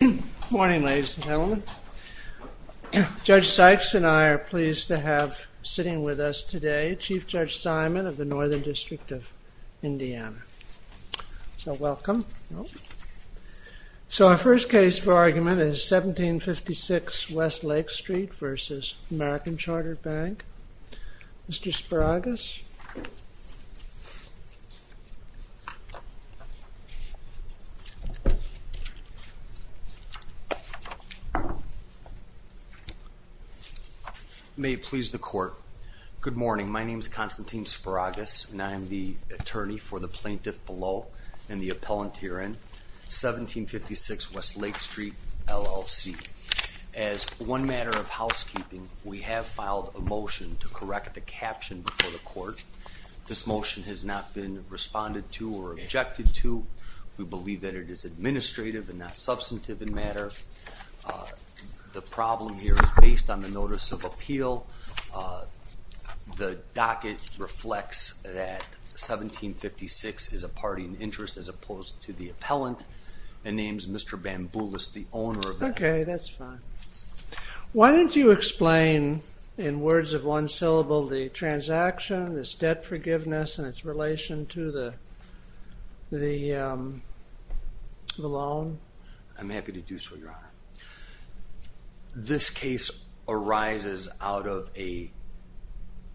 Good morning, ladies and gentlemen. Judge Sykes and I are pleased to have sitting with us today Chief Judge Simon of the Northern District of Indiana. So welcome. So our first case for argument is 1756 W. Lake Street v. American Chartered Bank. Mr. Spiragus. May it please the Court. Good morning. My name is Constantine Spiragus and I am the As one matter of housekeeping, we have filed a motion to correct the caption before the Court. This motion has not been responded to or objected to. We believe that it is administrative and not substantive in matter. The problem here is based on the Notice of Appeal. The docket reflects that 1756 is a party in interest as opposed to the appellant and names Mr. Bamboulas, the owner of that. Okay, that's fine. Why don't you explain in words of one syllable the transaction, this debt forgiveness and its relation to the loan? I'm happy to do so, Your Honor. This case arises out of a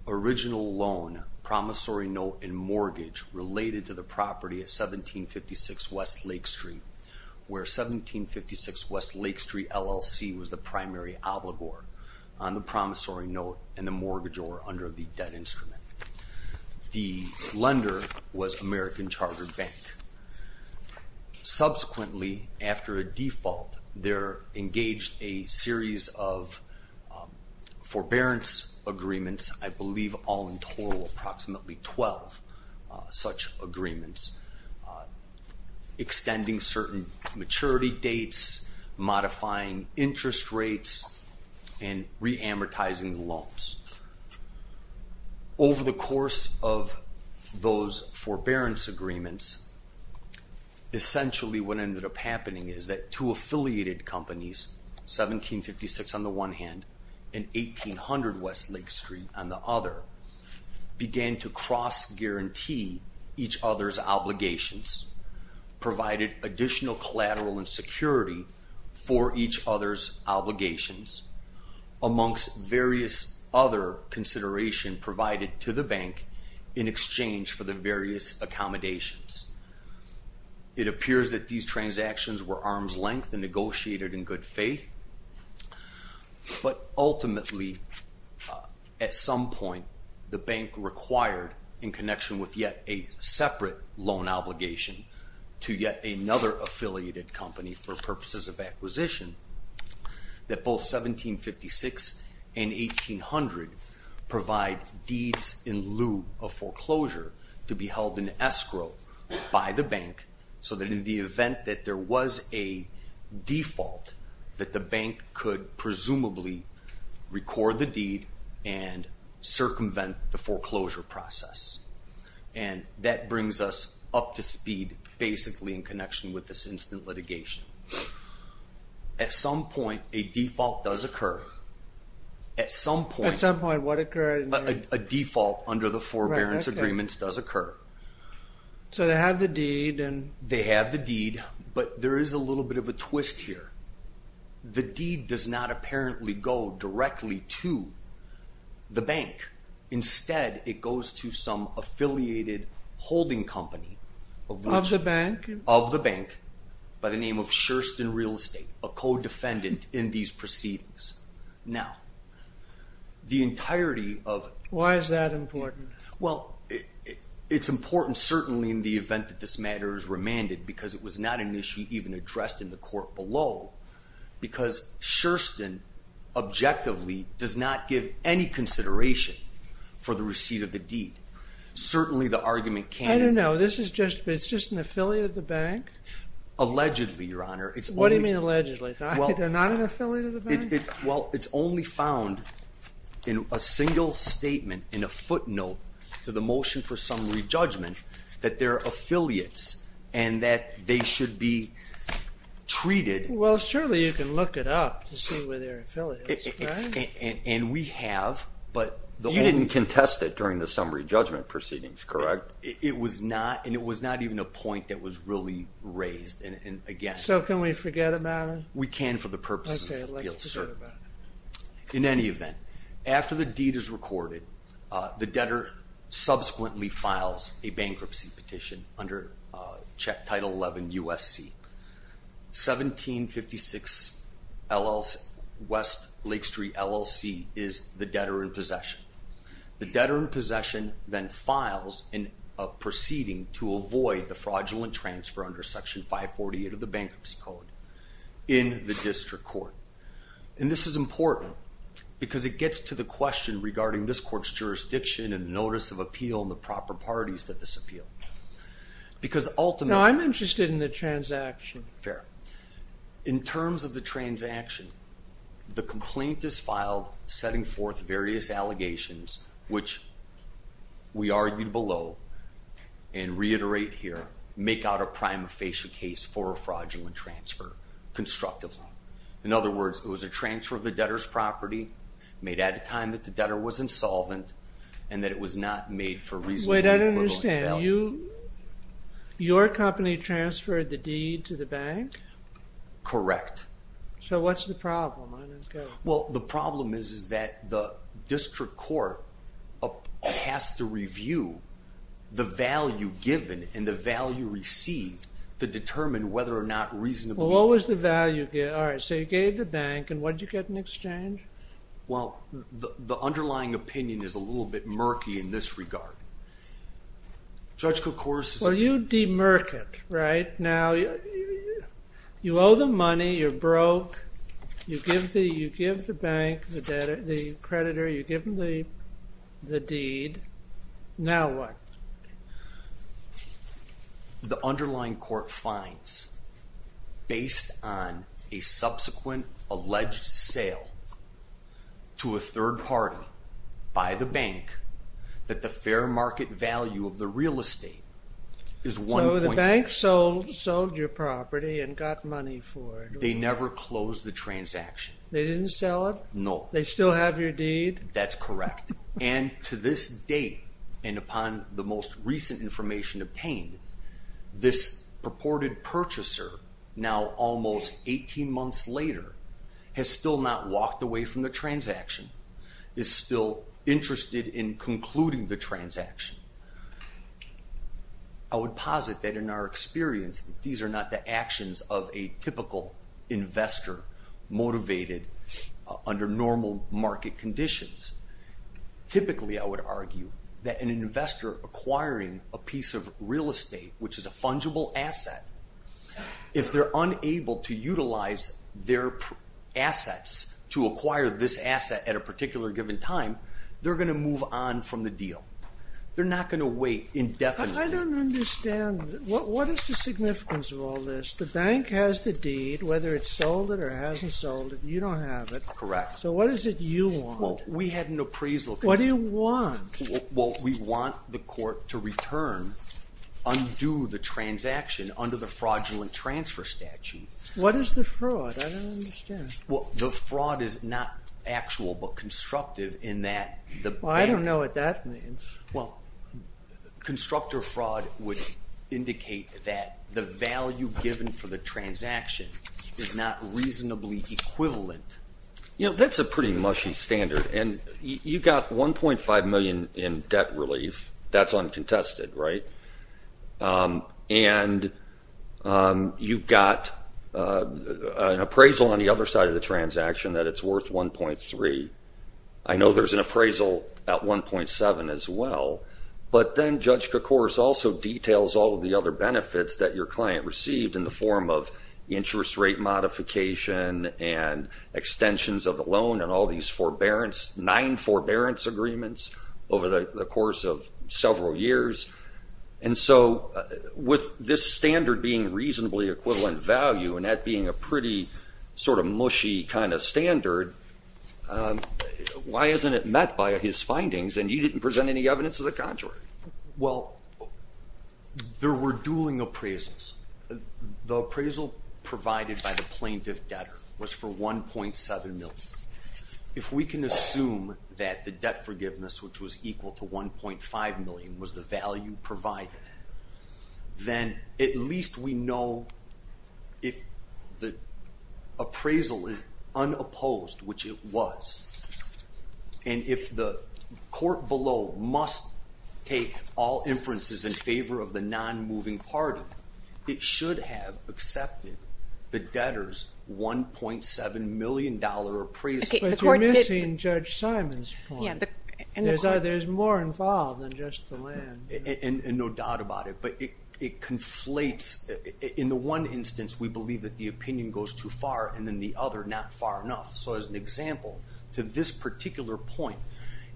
original loan, promissory note and mortgage related to the property at 1756 W. Lake Street, where 1756 W. Lake Street LLC was the primary obligor on the promissory note and the mortgage or under the debt instrument. The lender was American Chartered Bank. Subsequently, after a default, there engaged a series of forbearance agreements, I believe all in total approximately 12 such agreements, extending certain maturity dates, modifying interest rates and reamortizing loans. Over the course of those forbearance agreements, essentially what ended up happening is that two affiliated companies, 1756 on Lake Street and the other, began to cross-guarantee each other's obligations, provided additional collateral and security for each other's obligations, amongst various other consideration provided to the bank in exchange for the various accommodations. It appears that these transactions were arm's At some point, the bank required, in connection with yet a separate loan obligation to yet another affiliated company for purposes of acquisition, that both 1756 and 1800 provide deeds in lieu of foreclosure to be held in escrow by the bank so that in the event that there was a default that the bank could presumably record the deed and circumvent the foreclosure process. That brings us up to speed basically in connection with this instant litigation. At some point, a default does occur. At some point, a default under the forbearance agreements does occur. They have the deed, but there is a little bit of a twist here. The deed does not apparently go directly to the bank. Instead, it goes to some affiliated holding company of the bank by the name of Sherston Real Estate, a co-defendant in these proceedings. Now, the entirety of... Why is that important? Well, it's important certainly in the event that this matter is remanded, because it was not an issue even addressed in the court below, because Sherston objectively does not give any consideration for the receipt of the deed. Certainly, the argument can... I don't know. It's just an affiliate of the bank? Allegedly, Your Honor. It's only... Well, it's only found in a single statement in a footnote to the motion for summary judgment that they're affiliates and that they should be treated... Well, surely you can look it up to see where they're affiliates, right? And we have, but... You didn't contest it during the summary judgment proceedings, correct? It was not, and it was not even a point that was really raised, and again... So can we forget about it? We can for the purposes of appeal, sir. Okay, let's forget about it. In any event, after the deed is recorded, the debtor subsequently files a bankruptcy petition under Title 11 U.S.C. 1756 West Lake Street LLC is the debtor in possession. The debtor in possession then files a proceeding to avoid the fraudulent transfer under Section 548 of the Bankruptcy Code in the district court. And this is important because it gets to the question regarding this court's jurisdiction and the notice of appeal and the proper parties to this appeal. Because ultimately... No, I'm interested in the transaction. Fair. In terms of the transaction, the complaint is filed setting forth various allegations, which we argued below and reiterate here, make out a prima facie case for a fraudulent transfer constructively. In other words, it was a transfer of the debtor's property made at a time that the debtor was insolvent and that it was not made for reasonable... Wait, I don't understand. Your company transferred the deed to the bank? Correct. So what's the problem? Well, the problem is that the district court has to review the value given and the value received to determine whether or not reasonably... Well, what was the value? All right, so you gave the bank and what did you get in exchange? Well, the underlying opinion is a little bit murky in this regard. Judge Kocouris... Well, you de-murk it, right? Now, you owe the money, you're broke, you give the bank, the creditor, you give them the deed. Now what? The underlying court finds, based on a subsequent alleged sale to a third party by the bank, that the fair market value of the real estate is 1.6. So the bank sold your property and got money for it. They never closed the transaction. They didn't sell it? No. They still have your deed? That's correct. And to this date, and upon the most recent information obtained, this purported purchaser, now almost 18 months later, has still not walked away from the transaction, is still interested in concluding the transaction. I would posit that in our experience, these are not the actions of a typical investor motivated under normal market conditions. Typically, I would argue that an investor acquiring a piece of real estate, which is a fungible asset, if they're unable to utilize their assets to acquire this asset at a particular given time, they're going to move on from the deal. They're not going to wait indefinitely. I don't understand. What is the significance of all this? The bank has the deed, whether it's sold it or hasn't sold it. You don't have it. Correct. So what is it you want? Well, we had an appraisal. What do you want? Well, we want the court to return, undo the transaction under the fraudulent transfer statute. What is the fraud? I don't understand. Well, the fraud is not actual, but constructive in that the bank I don't know what that means. Well, constructive fraud would indicate that the value given for the transaction is not reasonably equivalent. You know, that's a pretty mushy standard. And you've got $1.5 million in debt relief. That's uncontested, right? And you've got an appraisal on the other side of the transaction that it's worth $1.3. I know there's an appraisal at $1.7 as well. But then Judge Kokoros also details all of the other benefits that your client received in the form of interest rate modification and extensions of the loan and all these nine forbearance agreements over the course of several years. And so with this standard being reasonably equivalent value and that being a pretty sort of mushy kind of standard, why isn't it met by his findings and you didn't present any evidence of the contrary? Well, there were dueling appraisals. The appraisal provided by the plaintiff debtor was for $1.7 million. If we can assume that the debt forgiveness, which was equal to $1.5 million, was the value provided, then at least we know if the appraisal is unopposed, which it was. And if the court below must take all inferences in favor of the non-moving party, it should have accepted the debtor's $1.7 million appraisal. But you're missing Judge Simon's point. There's more involved than just the land. And no doubt about it, but it conflates. In the one instance, we believe that the opinion goes too far, and in the other, not far enough. So as an example, to this particular point,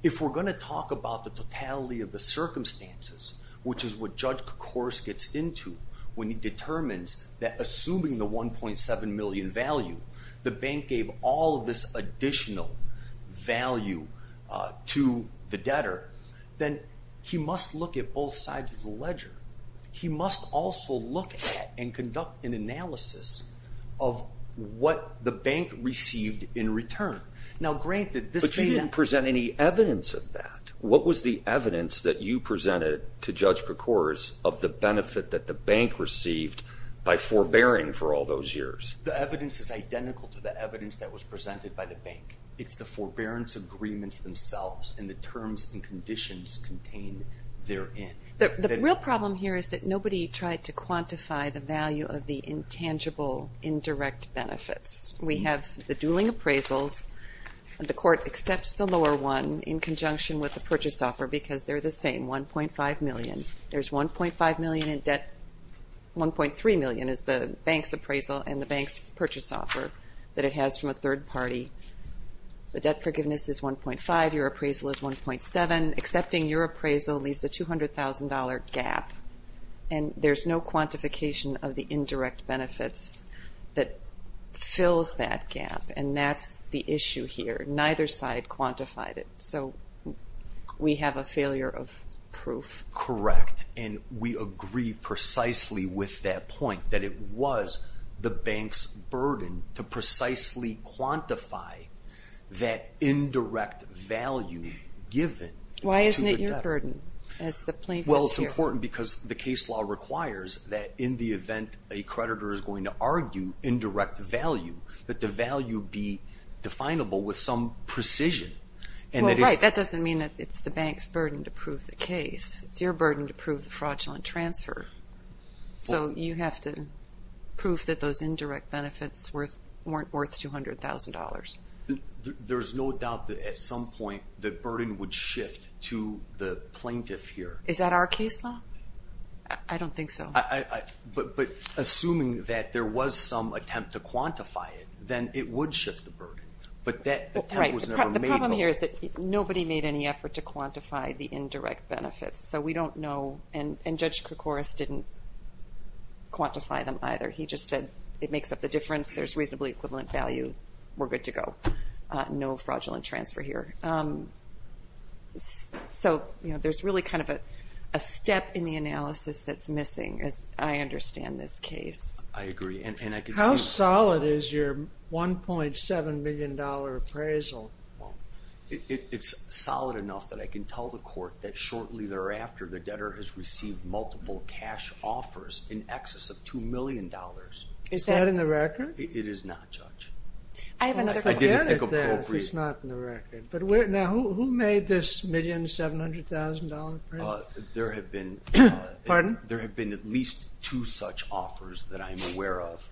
if we're going to talk about the totality of the circumstances, which is what Judge Kors gets into when he determines that assuming the $1.7 million value, the bank gave all of this additional value to the debtor, then he must look at both sides of the ledger. He must also look at and conduct an analysis of what the bank received in return. Now granted, this may not... But you didn't present any evidence of that. What was the evidence that you presented to Judge Kors of the benefit that the bank received by forbearing for all those years? The evidence is identical to the evidence that was presented by the bank. It's the forbearance agreements themselves and the terms and conditions contained therein. The real problem here is that nobody tried to quantify the value of the intangible indirect benefits. We have the dueling appraisals. The court accepts the lower one in conjunction with the purchase offer because they're the same, $1.5 million. There's $1.5 million in debt. $1.3 million is the bank's appraisal and the bank's purchase offer that it has from a third party. The debt forgiveness is $1.5. Your appraisal is $1.7. Accepting your appraisal leaves a $200,000 gap and there's no quantification of the indirect benefits that fills that gap, and that's the issue here. Neither side quantified it, so we have a failure of proof. Correct, and we agree precisely with that point that it was the bank's burden to precisely quantify that indirect value given to the debtor. Why isn't it your burden as the plaintiff here? Well, it's important because the case law requires that in the event a creditor is going to argue indirect value, that the value be definable with some precision. Well, right, that doesn't mean that it's the bank's burden to prove the case. It's your burden to prove the fraudulent transfer. So you have to prove that those indirect benefits weren't worth $200,000. There's no doubt that at some point the burden would shift to the plaintiff here. Is that our case law? I don't think so. But assuming that there was some attempt to quantify it, then it would shift the burden, but that attempt was never made. The problem here is that nobody made any effort to quantify the indirect benefits, so we don't know, and Judge Krikoris didn't quantify them either. He just said it makes up the difference, there's reasonably equivalent value, we're good to go. No fraudulent transfer here. So, you know, there's really kind of a step in the analysis that's missing, as I understand this case. I agree, and I can see... How solid is your $1.7 million appraisal? It's solid enough that I can tell the court that shortly thereafter the debtor has received multiple cash offers in excess of $2 million. Is that in the record? It is not, Judge. I didn't think appropriate. Now, who made this $1.7 million appraisal? There have been at least two such offers that I'm aware of.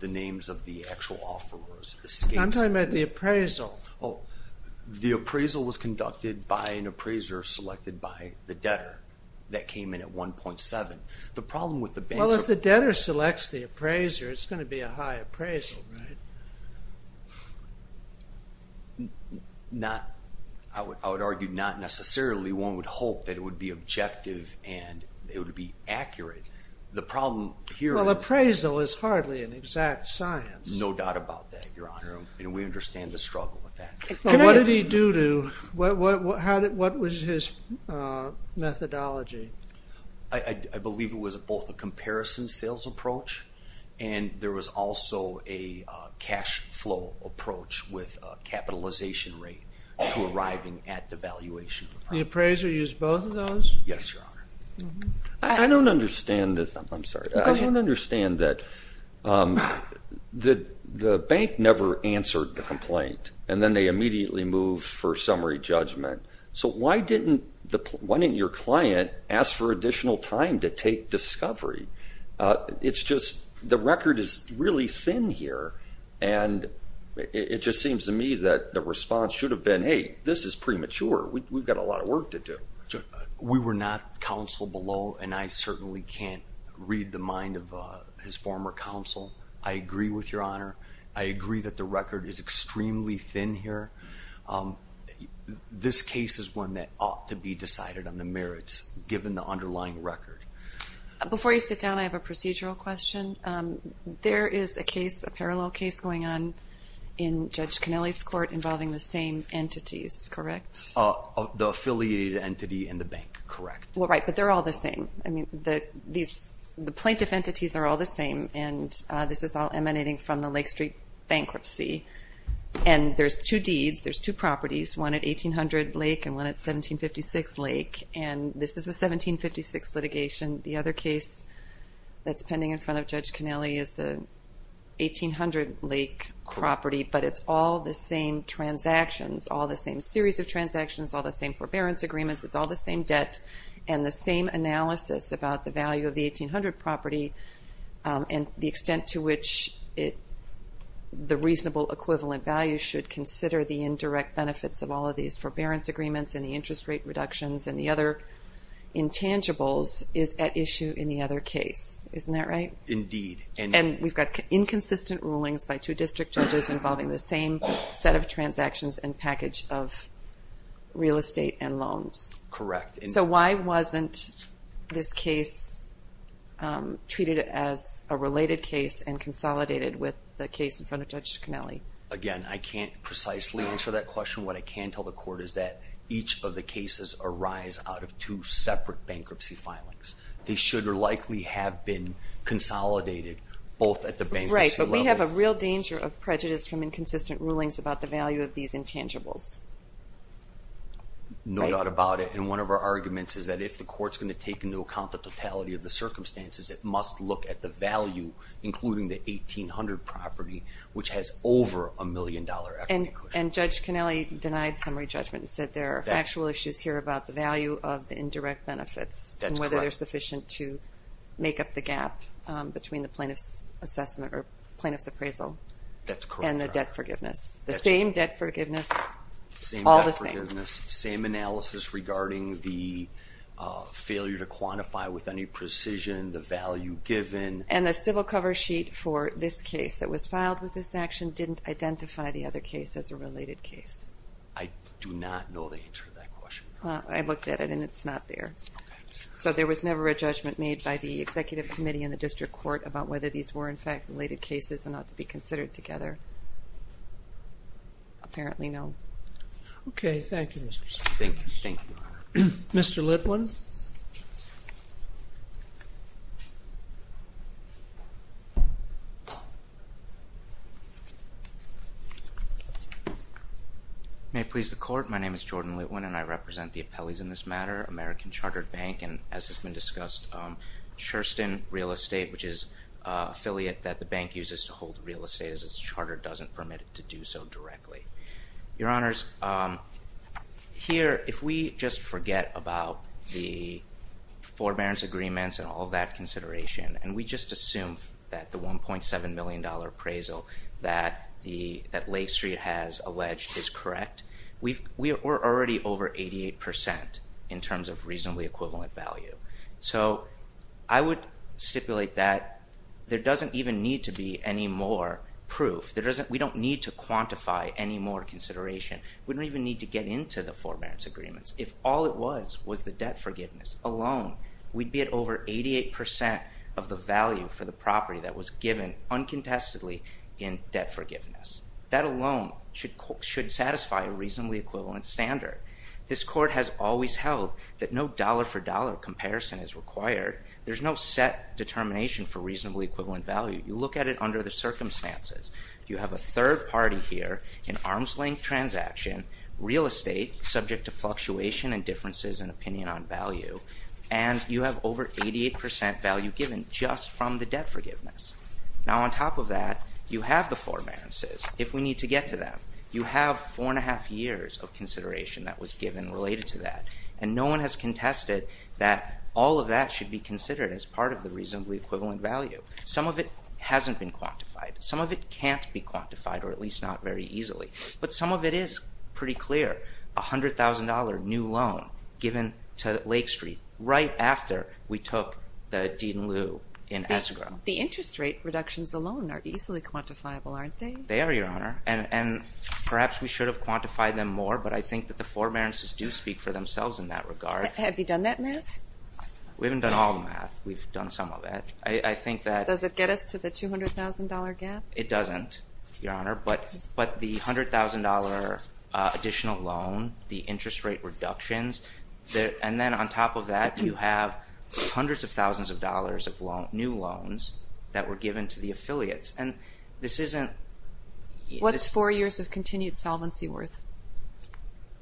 The names of the actual offerors... I'm talking about the appraisal. Oh, the appraisal was conducted by an appraiser selected by the debtor that came in at $1.7. Well, if the debtor selects the appraiser, it's going to be a high appraisal, right? Not... I would argue not necessarily. One would hope that it would be objective and it would be accurate. The problem here is... Well, appraisal is hardly an exact science. No doubt about that, Your Honor, and we understand the struggle with that. What did he do to... What was his methodology? I believe it was both a comparison sales approach and there was also a cash flow approach with a capitalization rate to arriving at the valuation. The appraiser used both of those? Yes, Your Honor. I don't understand this. I don't understand that... ...answered the complaint and then they immediately moved for summary judgment. So why didn't your client ask for additional time to take discovery? It's just... The record is really thin here and it just seems to me that the response should have been, hey, this is premature. We've got a lot of work to do. We were not counsel below and I certainly can't read the mind of his former counsel. I agree with Your Honor. I agree that the record is extremely thin here. This case is one that ought to be decided on the merits given the underlying record. Before you sit down, I have a procedural question. There is a case, a parallel case going on in Judge Kennelly's court involving the same entities, correct? The affiliated entity and the bank, correct. Well, right, but they're all the same. I mean, the plaintiff and the entities are all the same and this is all emanating from the Lake Street bankruptcy and there's two deeds, there's two properties, one at 1800 Lake and one at 1756 Lake and this is the 1756 litigation. The other case that's pending in front of Judge Kennelly is the 1800 Lake property, but it's all the same transactions, all the same series of transactions, all the same forbearance agreements, it's all the same debt and the same analysis about the value of the 1800 property and the extent to which the reasonable equivalent value should consider the indirect benefits of all of these forbearance agreements and the interest rate reductions and the other intangibles is at issue in the other case. Isn't that right? Indeed. And we've got inconsistent rulings by two district judges involving the same set of transactions and package of real estate and loans. Correct. So why wasn't this case treated as a related case and consolidated with the case in front of Judge Kennelly? Again, I can't precisely answer that question. What I can tell the court is that each of the cases arise out of two separate bankruptcy filings. They should or likely have been consolidated both at the bankruptcy level. Right, but we have a real danger of prejudice from inconsistent rulings about the value of these intangibles. No doubt about it and one of our arguments is that if the court is going to take into account the totality of the circumstances, it must look at the value including the 1800 property which has over a million dollar equity. And Judge Kennelly denied summary judgment and said there are factual issues here about the value of the indirect benefits and whether they're sufficient to make up the gap between the plaintiff's assessment or plaintiff's appraisal and the debt forgiveness. The same debt forgiveness, all the same. Same analysis regarding the failure to quantify with any precision the value given. And the civil cover sheet for this case that was filed with this action didn't identify the other case as a related case. I do not know the answer to that question. I looked at it and it's not there. So there was never a judgment made by the executive committee in the district court about whether these were in fact related cases and ought to be considered together. Apparently no. Okay. Thank you, Mr. Chief. Thank you. Mr. Litwin. May it please the court. My name is Jordan Litwin and I represent the appellees in this matter, American Chartered Bank and as has been discussed Sherston Real Estate which is an affiliate that the bank uses to hold real estate as its charter doesn't permit it to do so directly. Your honors here if we just forget about the forbearance agreements and all that consideration and we just assume that the $1.7 million dollar appraisal that Lake Street has alleged is correct we're already over 88% in terms of reasonably equivalent value. So I would stipulate that there doesn't even need to be any more proof. We don't need to quantify any more consideration. We don't even need to get into the forbearance agreements. If all it was was the debt forgiveness alone we'd be at over 88% of the value for the property that was given uncontestedly in debt forgiveness. That alone should satisfy a reasonably equivalent standard. This court has always held that no dollar for dollar comparison is required. There's no set determination for the circumstances. You have a third party here in arm's length transaction, real estate subject to fluctuation and differences in opinion on value and you have over 88% value given just from the debt forgiveness. Now on top of that you have the forbearances if we need to get to them. You have four and a half years of consideration that was given related to that and no one has contested that all of that should be considered as part of the reasonably equivalent value. Some of it hasn't been quantified. Some of it can't be quantified or at least not very easily. But some of it is pretty clear. A $100,000 new loan given to Lake Street right after we took the deed in lieu in Ezra. The interest rate reductions alone are easily quantifiable aren't they? They are Your Honor and perhaps we should have quantified them more but I think that the forbearances do speak for themselves in that regard. Have you done that math? We haven't done all the math. We've done some of it. Does it get us to the $200,000 gap? It doesn't Your Honor. But the $100,000 additional loan, the interest rate reductions and then on top of that you have hundreds of thousands of dollars of new loans that were given to the affiliates and this isn't What's four years of continued solvency worth?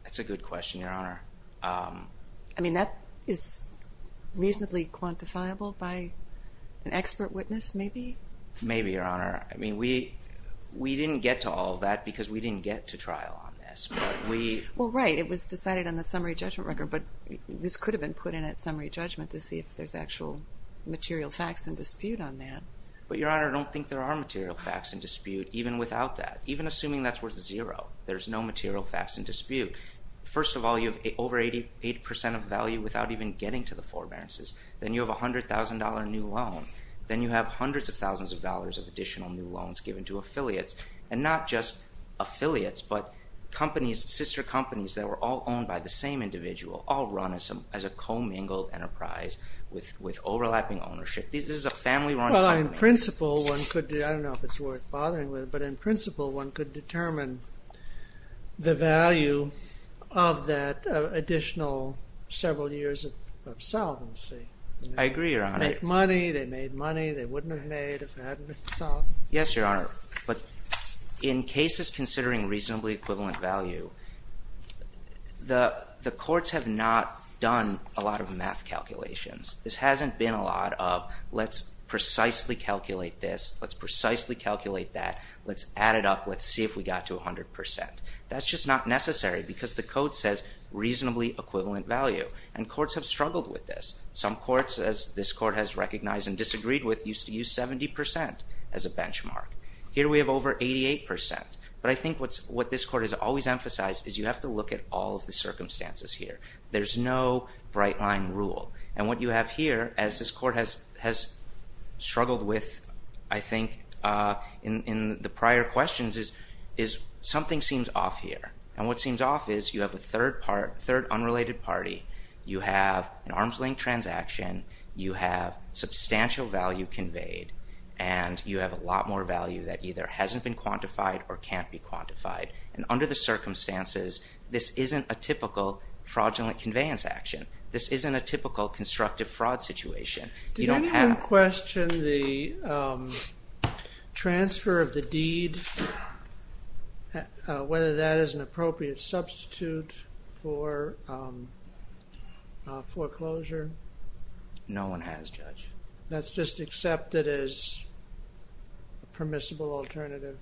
That's a good question Your Honor. I mean that is reasonably quantifiable by an expert witness maybe? Maybe Your Honor. I mean we we didn't get to all of that because we didn't get to trial on this. Well right, it was decided on the summary judgment record but this could have been put in at summary judgment to see if there's actual material facts in dispute on that. But Your Honor, I don't think there are material facts in dispute even without that. Even assuming that's worth zero, there's no material facts in dispute. First of all, you have over 80% of value without even getting to the forbearances. Then you have a $100,000 new loan. Then you have hundreds of thousands of dollars of additional new loans given to affiliates. And not just affiliates but companies, sister companies that were all owned by the same individual, all run as a co-mingled enterprise with overlapping ownership. This is a family run company. Well in principle one could I don't know if it's worth bothering with but in principle one could determine the value of that additional several years of solvency. I agree, Your Honor. They made money, they wouldn't have made if it hadn't been solved. Yes, Your Honor. In cases considering reasonably equivalent value the courts have not done a lot of math calculations. This hasn't been a lot of let's precisely calculate this, let's precisely calculate that, let's add it up, let's see if we got to 100%. That's just not necessary because the code says reasonably equivalent value. And courts have struggled with this. Some courts, as this court has recognized and disagreed with, used to use 70% as a benchmark. Here we have over 88%. But I think what this court has always emphasized is you have to look at all of the circumstances here. There's no bright line rule. And what you have here, as this court has struggled with, I think in the prior questions is something seems off here. And what seems off is you have a third unrelated party, you have an arms link transaction, you have substantial value conveyed and you have a lot more value that either hasn't been quantified or can't be quantified. And under the circumstances this isn't a typical fraudulent conveyance action. This isn't a typical constructive fraud situation. Did anyone question the transfer of the deed? Whether that is an appropriate substitute for foreclosure? No one has, Judge. That's just accepted as permissible alternative?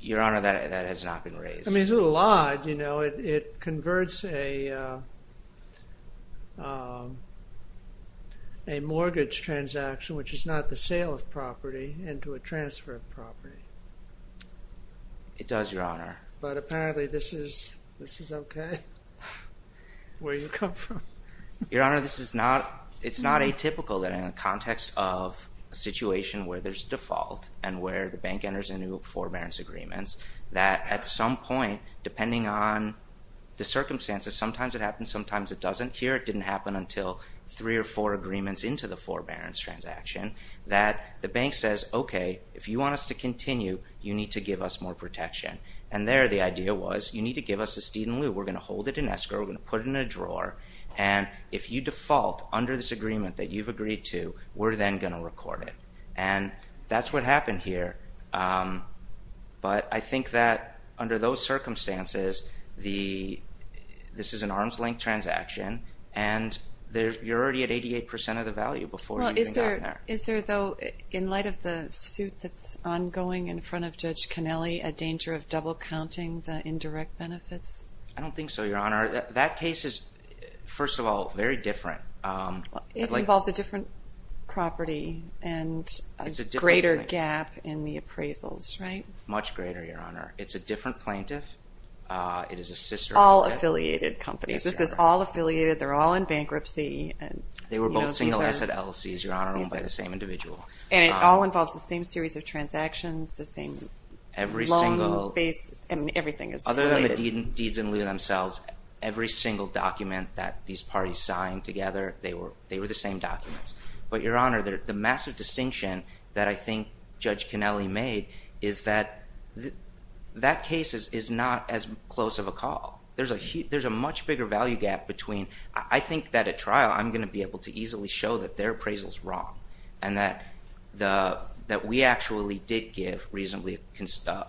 Your Honor, that has not been raised. I mean, it's a lot, you know. It converts a deed which is not the sale of property into a transfer of property. It does, Your Honor. But apparently this is okay? Where you come from? Your Honor, it's not atypical that in a context of a situation where there's default and where the bank enters into forbearance agreements that at some point depending on the circumstances, sometimes it happens, sometimes it doesn't. Here it didn't happen until three or four months into the transaction that the bank says, okay, if you want us to continue you need to give us more protection. And there the idea was, you need to give us this deed in lieu. We're going to hold it in escrow. We're going to put it in a drawer and if you default under this agreement that you've agreed to, we're then going to record it. And that's what happened here. But I think that under those circumstances this is an arms-length transaction and you're already at 88% of the value before you even got there. Is there, though, in light of the suit that's ongoing in front of Judge Connelly, a danger of double-counting the indirect benefits? I don't think so, Your Honor. That case is, first of all, very different. It involves a different property and a greater gap in the appraisals, right? Much greater, Your Honor. It's a different plaintiff. It is a sister... All affiliated companies. This is all affiliated. They're all in bankruptcy. They were both single-asset LLCs, Your Honor, owned by the same individual. And it all involves the same series of transactions, the same loan basis, and everything is related. Other than the deeds in lieu themselves, every single document that these parties signed together, they were the same documents. But, Your Honor, the massive distinction that I think Judge Connelly made is that that case is not as close of a call. There's a much bigger value gap between... I think that at trial, I'm going to be able to easily show that their appraisal is wrong and that we actually did give reasonably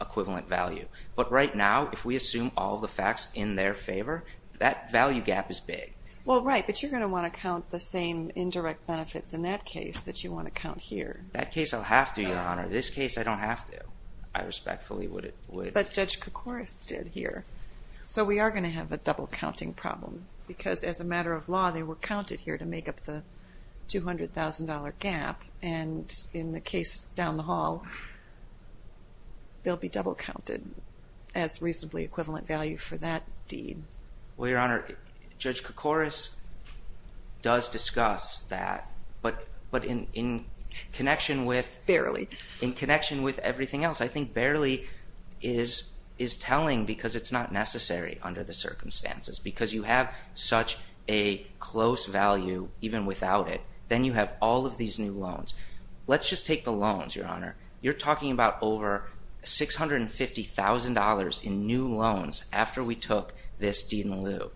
equivalent value. But right now, if we assume all the facts in their favor, that value gap is big. Well, right, but you're going to want to count the same indirect benefits in that case that you want to count here. That case I'll have to, Your Honor. This case I don't have to. I respectfully would... But Judge Koukouris did here. So we are going to have a double counting problem because as a matter of law, they were counted here to make up the $200,000 gap and in the case down the hall they'll be double counted as reasonably equivalent value for that deed. Well, Your Honor, Judge Koukouris does discuss that but in connection with... Barely. In connection with everything else, I think barely is telling because it's not necessary under the circumstances because you have such a close value even without it. Then you have all of these new loans. Let's just take the loans, Your Honor. You're talking about over $650,000 in new loans after we took this deed in lieu.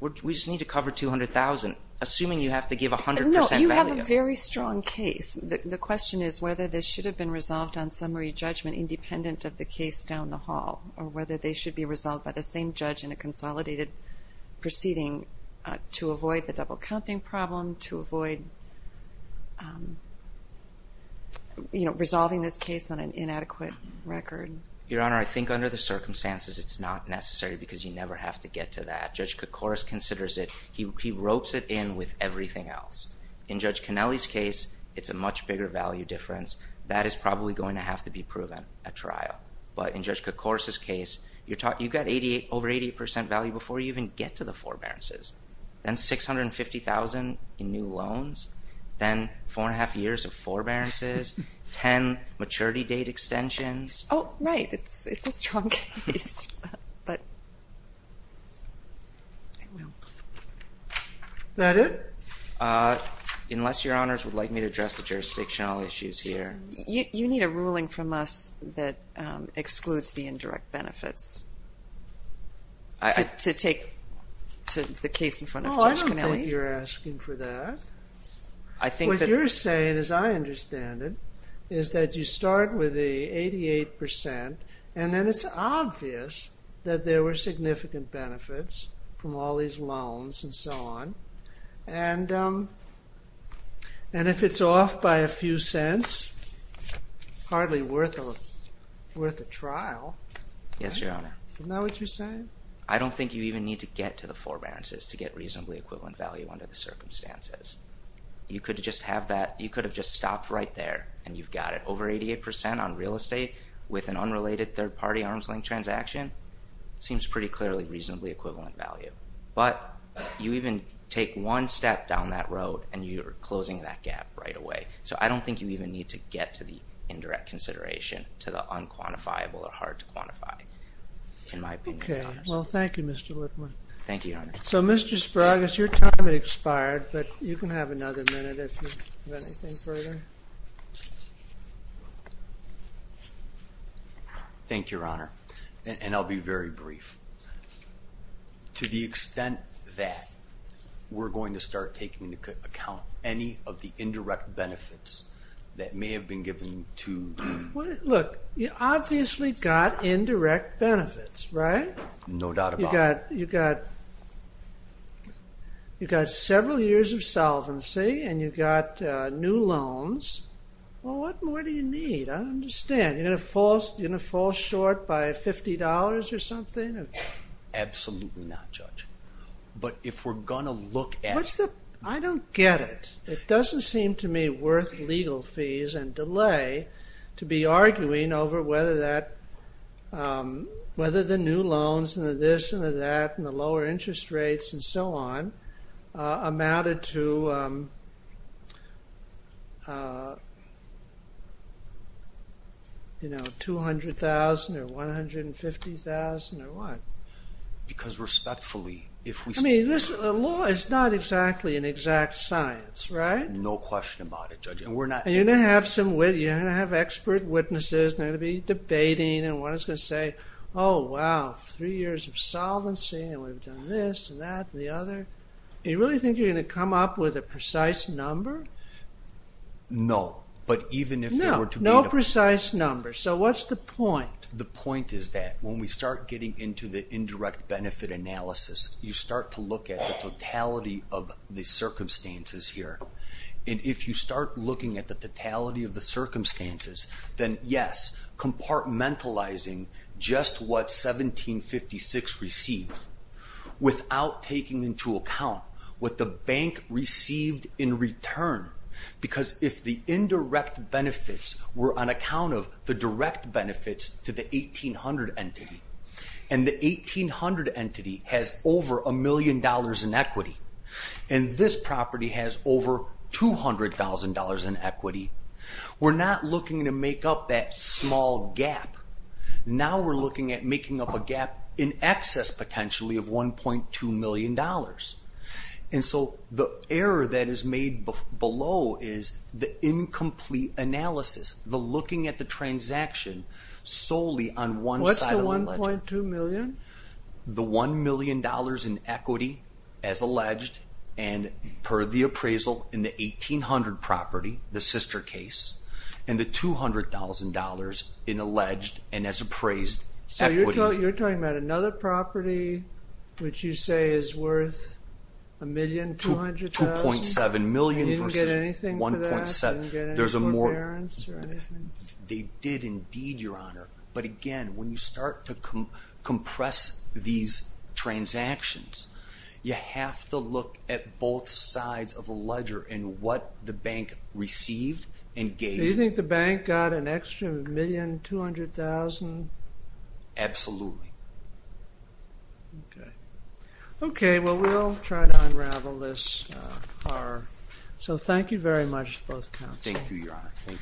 We just need to cover $200,000 assuming you have to give 100% value. No, you have a very strong case. The question is whether this should have been independent of the case down the hall or whether they should be resolved by the same judge in a consolidated proceeding to avoid the double counting problem, to avoid resolving this case on an inadequate record. Your Honor, I think under the circumstances it's not necessary because you never have to get to that. Judge Koukouris considers it. He ropes it in with everything else. In Judge Kennelly's case, it's a much bigger value difference. That is probably going to have to be proven at trial. But in Judge Koukouris' case, you've got over 88% value before you even get to the forbearances. Then $650,000 in new loans. Then four and a half years of forbearances. Ten maturity date extensions. Oh, right. It's a strong case. Is that it? Unless Your Honors would like me to address the jurisdictional issues here. You need a ruling from us that excludes the indirect benefits. To take the case in front of Judge Kennelly. I don't think you're asking for that. What you're saying, as I understand it, is that you start with the 88% and then it's obvious that there were significant benefits from all these loans and so on. And if it's off by a few cents, it's hardly worth a trial. Yes, Your Honor. Isn't that what you're saying? I don't think you even need to get to the forbearances to get reasonably equivalent value under the circumstances. You could have just stopped right there and you've got it. Over 88% on real estate with an unrelated third party arm's length transaction, seems pretty clearly reasonably equivalent value. But you even take one step down that road and you're closing that gap right away. So I don't think you even need to get to the indirect consideration, to the unquantifiable or hard to quantify. In my opinion. Okay, well thank you Mr. Whitman. Thank you, Your Honor. So Mr. Spragus, your time has expired but you can have another minute if you have anything further. Thank you, Your Honor. And I'll be very brief. To the extent that we're going to start taking into account any of the indirect benefits that may have been given to Look, you obviously got indirect benefits, right? No doubt about it. You got several years of solvency and you got new loans. What more do you need? I don't understand. You're going to fall short by $50 or something? Absolutely not, Judge. But if we're going to look at I don't get it. It doesn't seem to me worth legal fees and delay to be arguing over whether that whether the new loans and the this and the that and the lower interest rates and so on amounted to uh you know $200,000 or $150,000 or what? Because respectfully, if we I mean, law is not exactly an exact science, right? No question about it, Judge. You're going to have expert witnesses and they're going to be debating and one is going to say, oh wow three years of solvency and we've done this and that and the other. Do you really think you're going to come up with a precise number? No, but even if there were to be No precise number. So what's the point? The point is that when we start getting into the indirect benefit analysis, you start to look at the totality of the circumstances here. And if you start looking at the totality of the circumstances, then yes compartmentalizing just what 1756 received without taking into account what the bank received in return. Because if the indirect benefits were on account of the direct benefits to the 1800 entity and the 1800 entity has over a million dollars in equity and this property has over $200,000 in equity we're not looking to make up that small gap. Now we're looking at making up a gap in excess potentially of $1.2 million. And so the error that is made below is the incomplete analysis the looking at the transaction solely on one side What's the $1.2 million? The $1 million in equity as alleged and per the appraisal in the 1800 property, the sister case and the $200,000 in alleged and as appraised equity. So you're talking about another property which you say is worth $1.2 million? $2.7 million versus $1.7 million. They did indeed your honor, but again when you start to compress these transactions you have to look at both sides of the ledger and what the bank received and gave. Do you think the bank got an extra $1.2 million? $200,000? Absolutely. Okay. Okay, well we'll try to unravel this horror. So thank you very much to both counsels. Thank you your honor.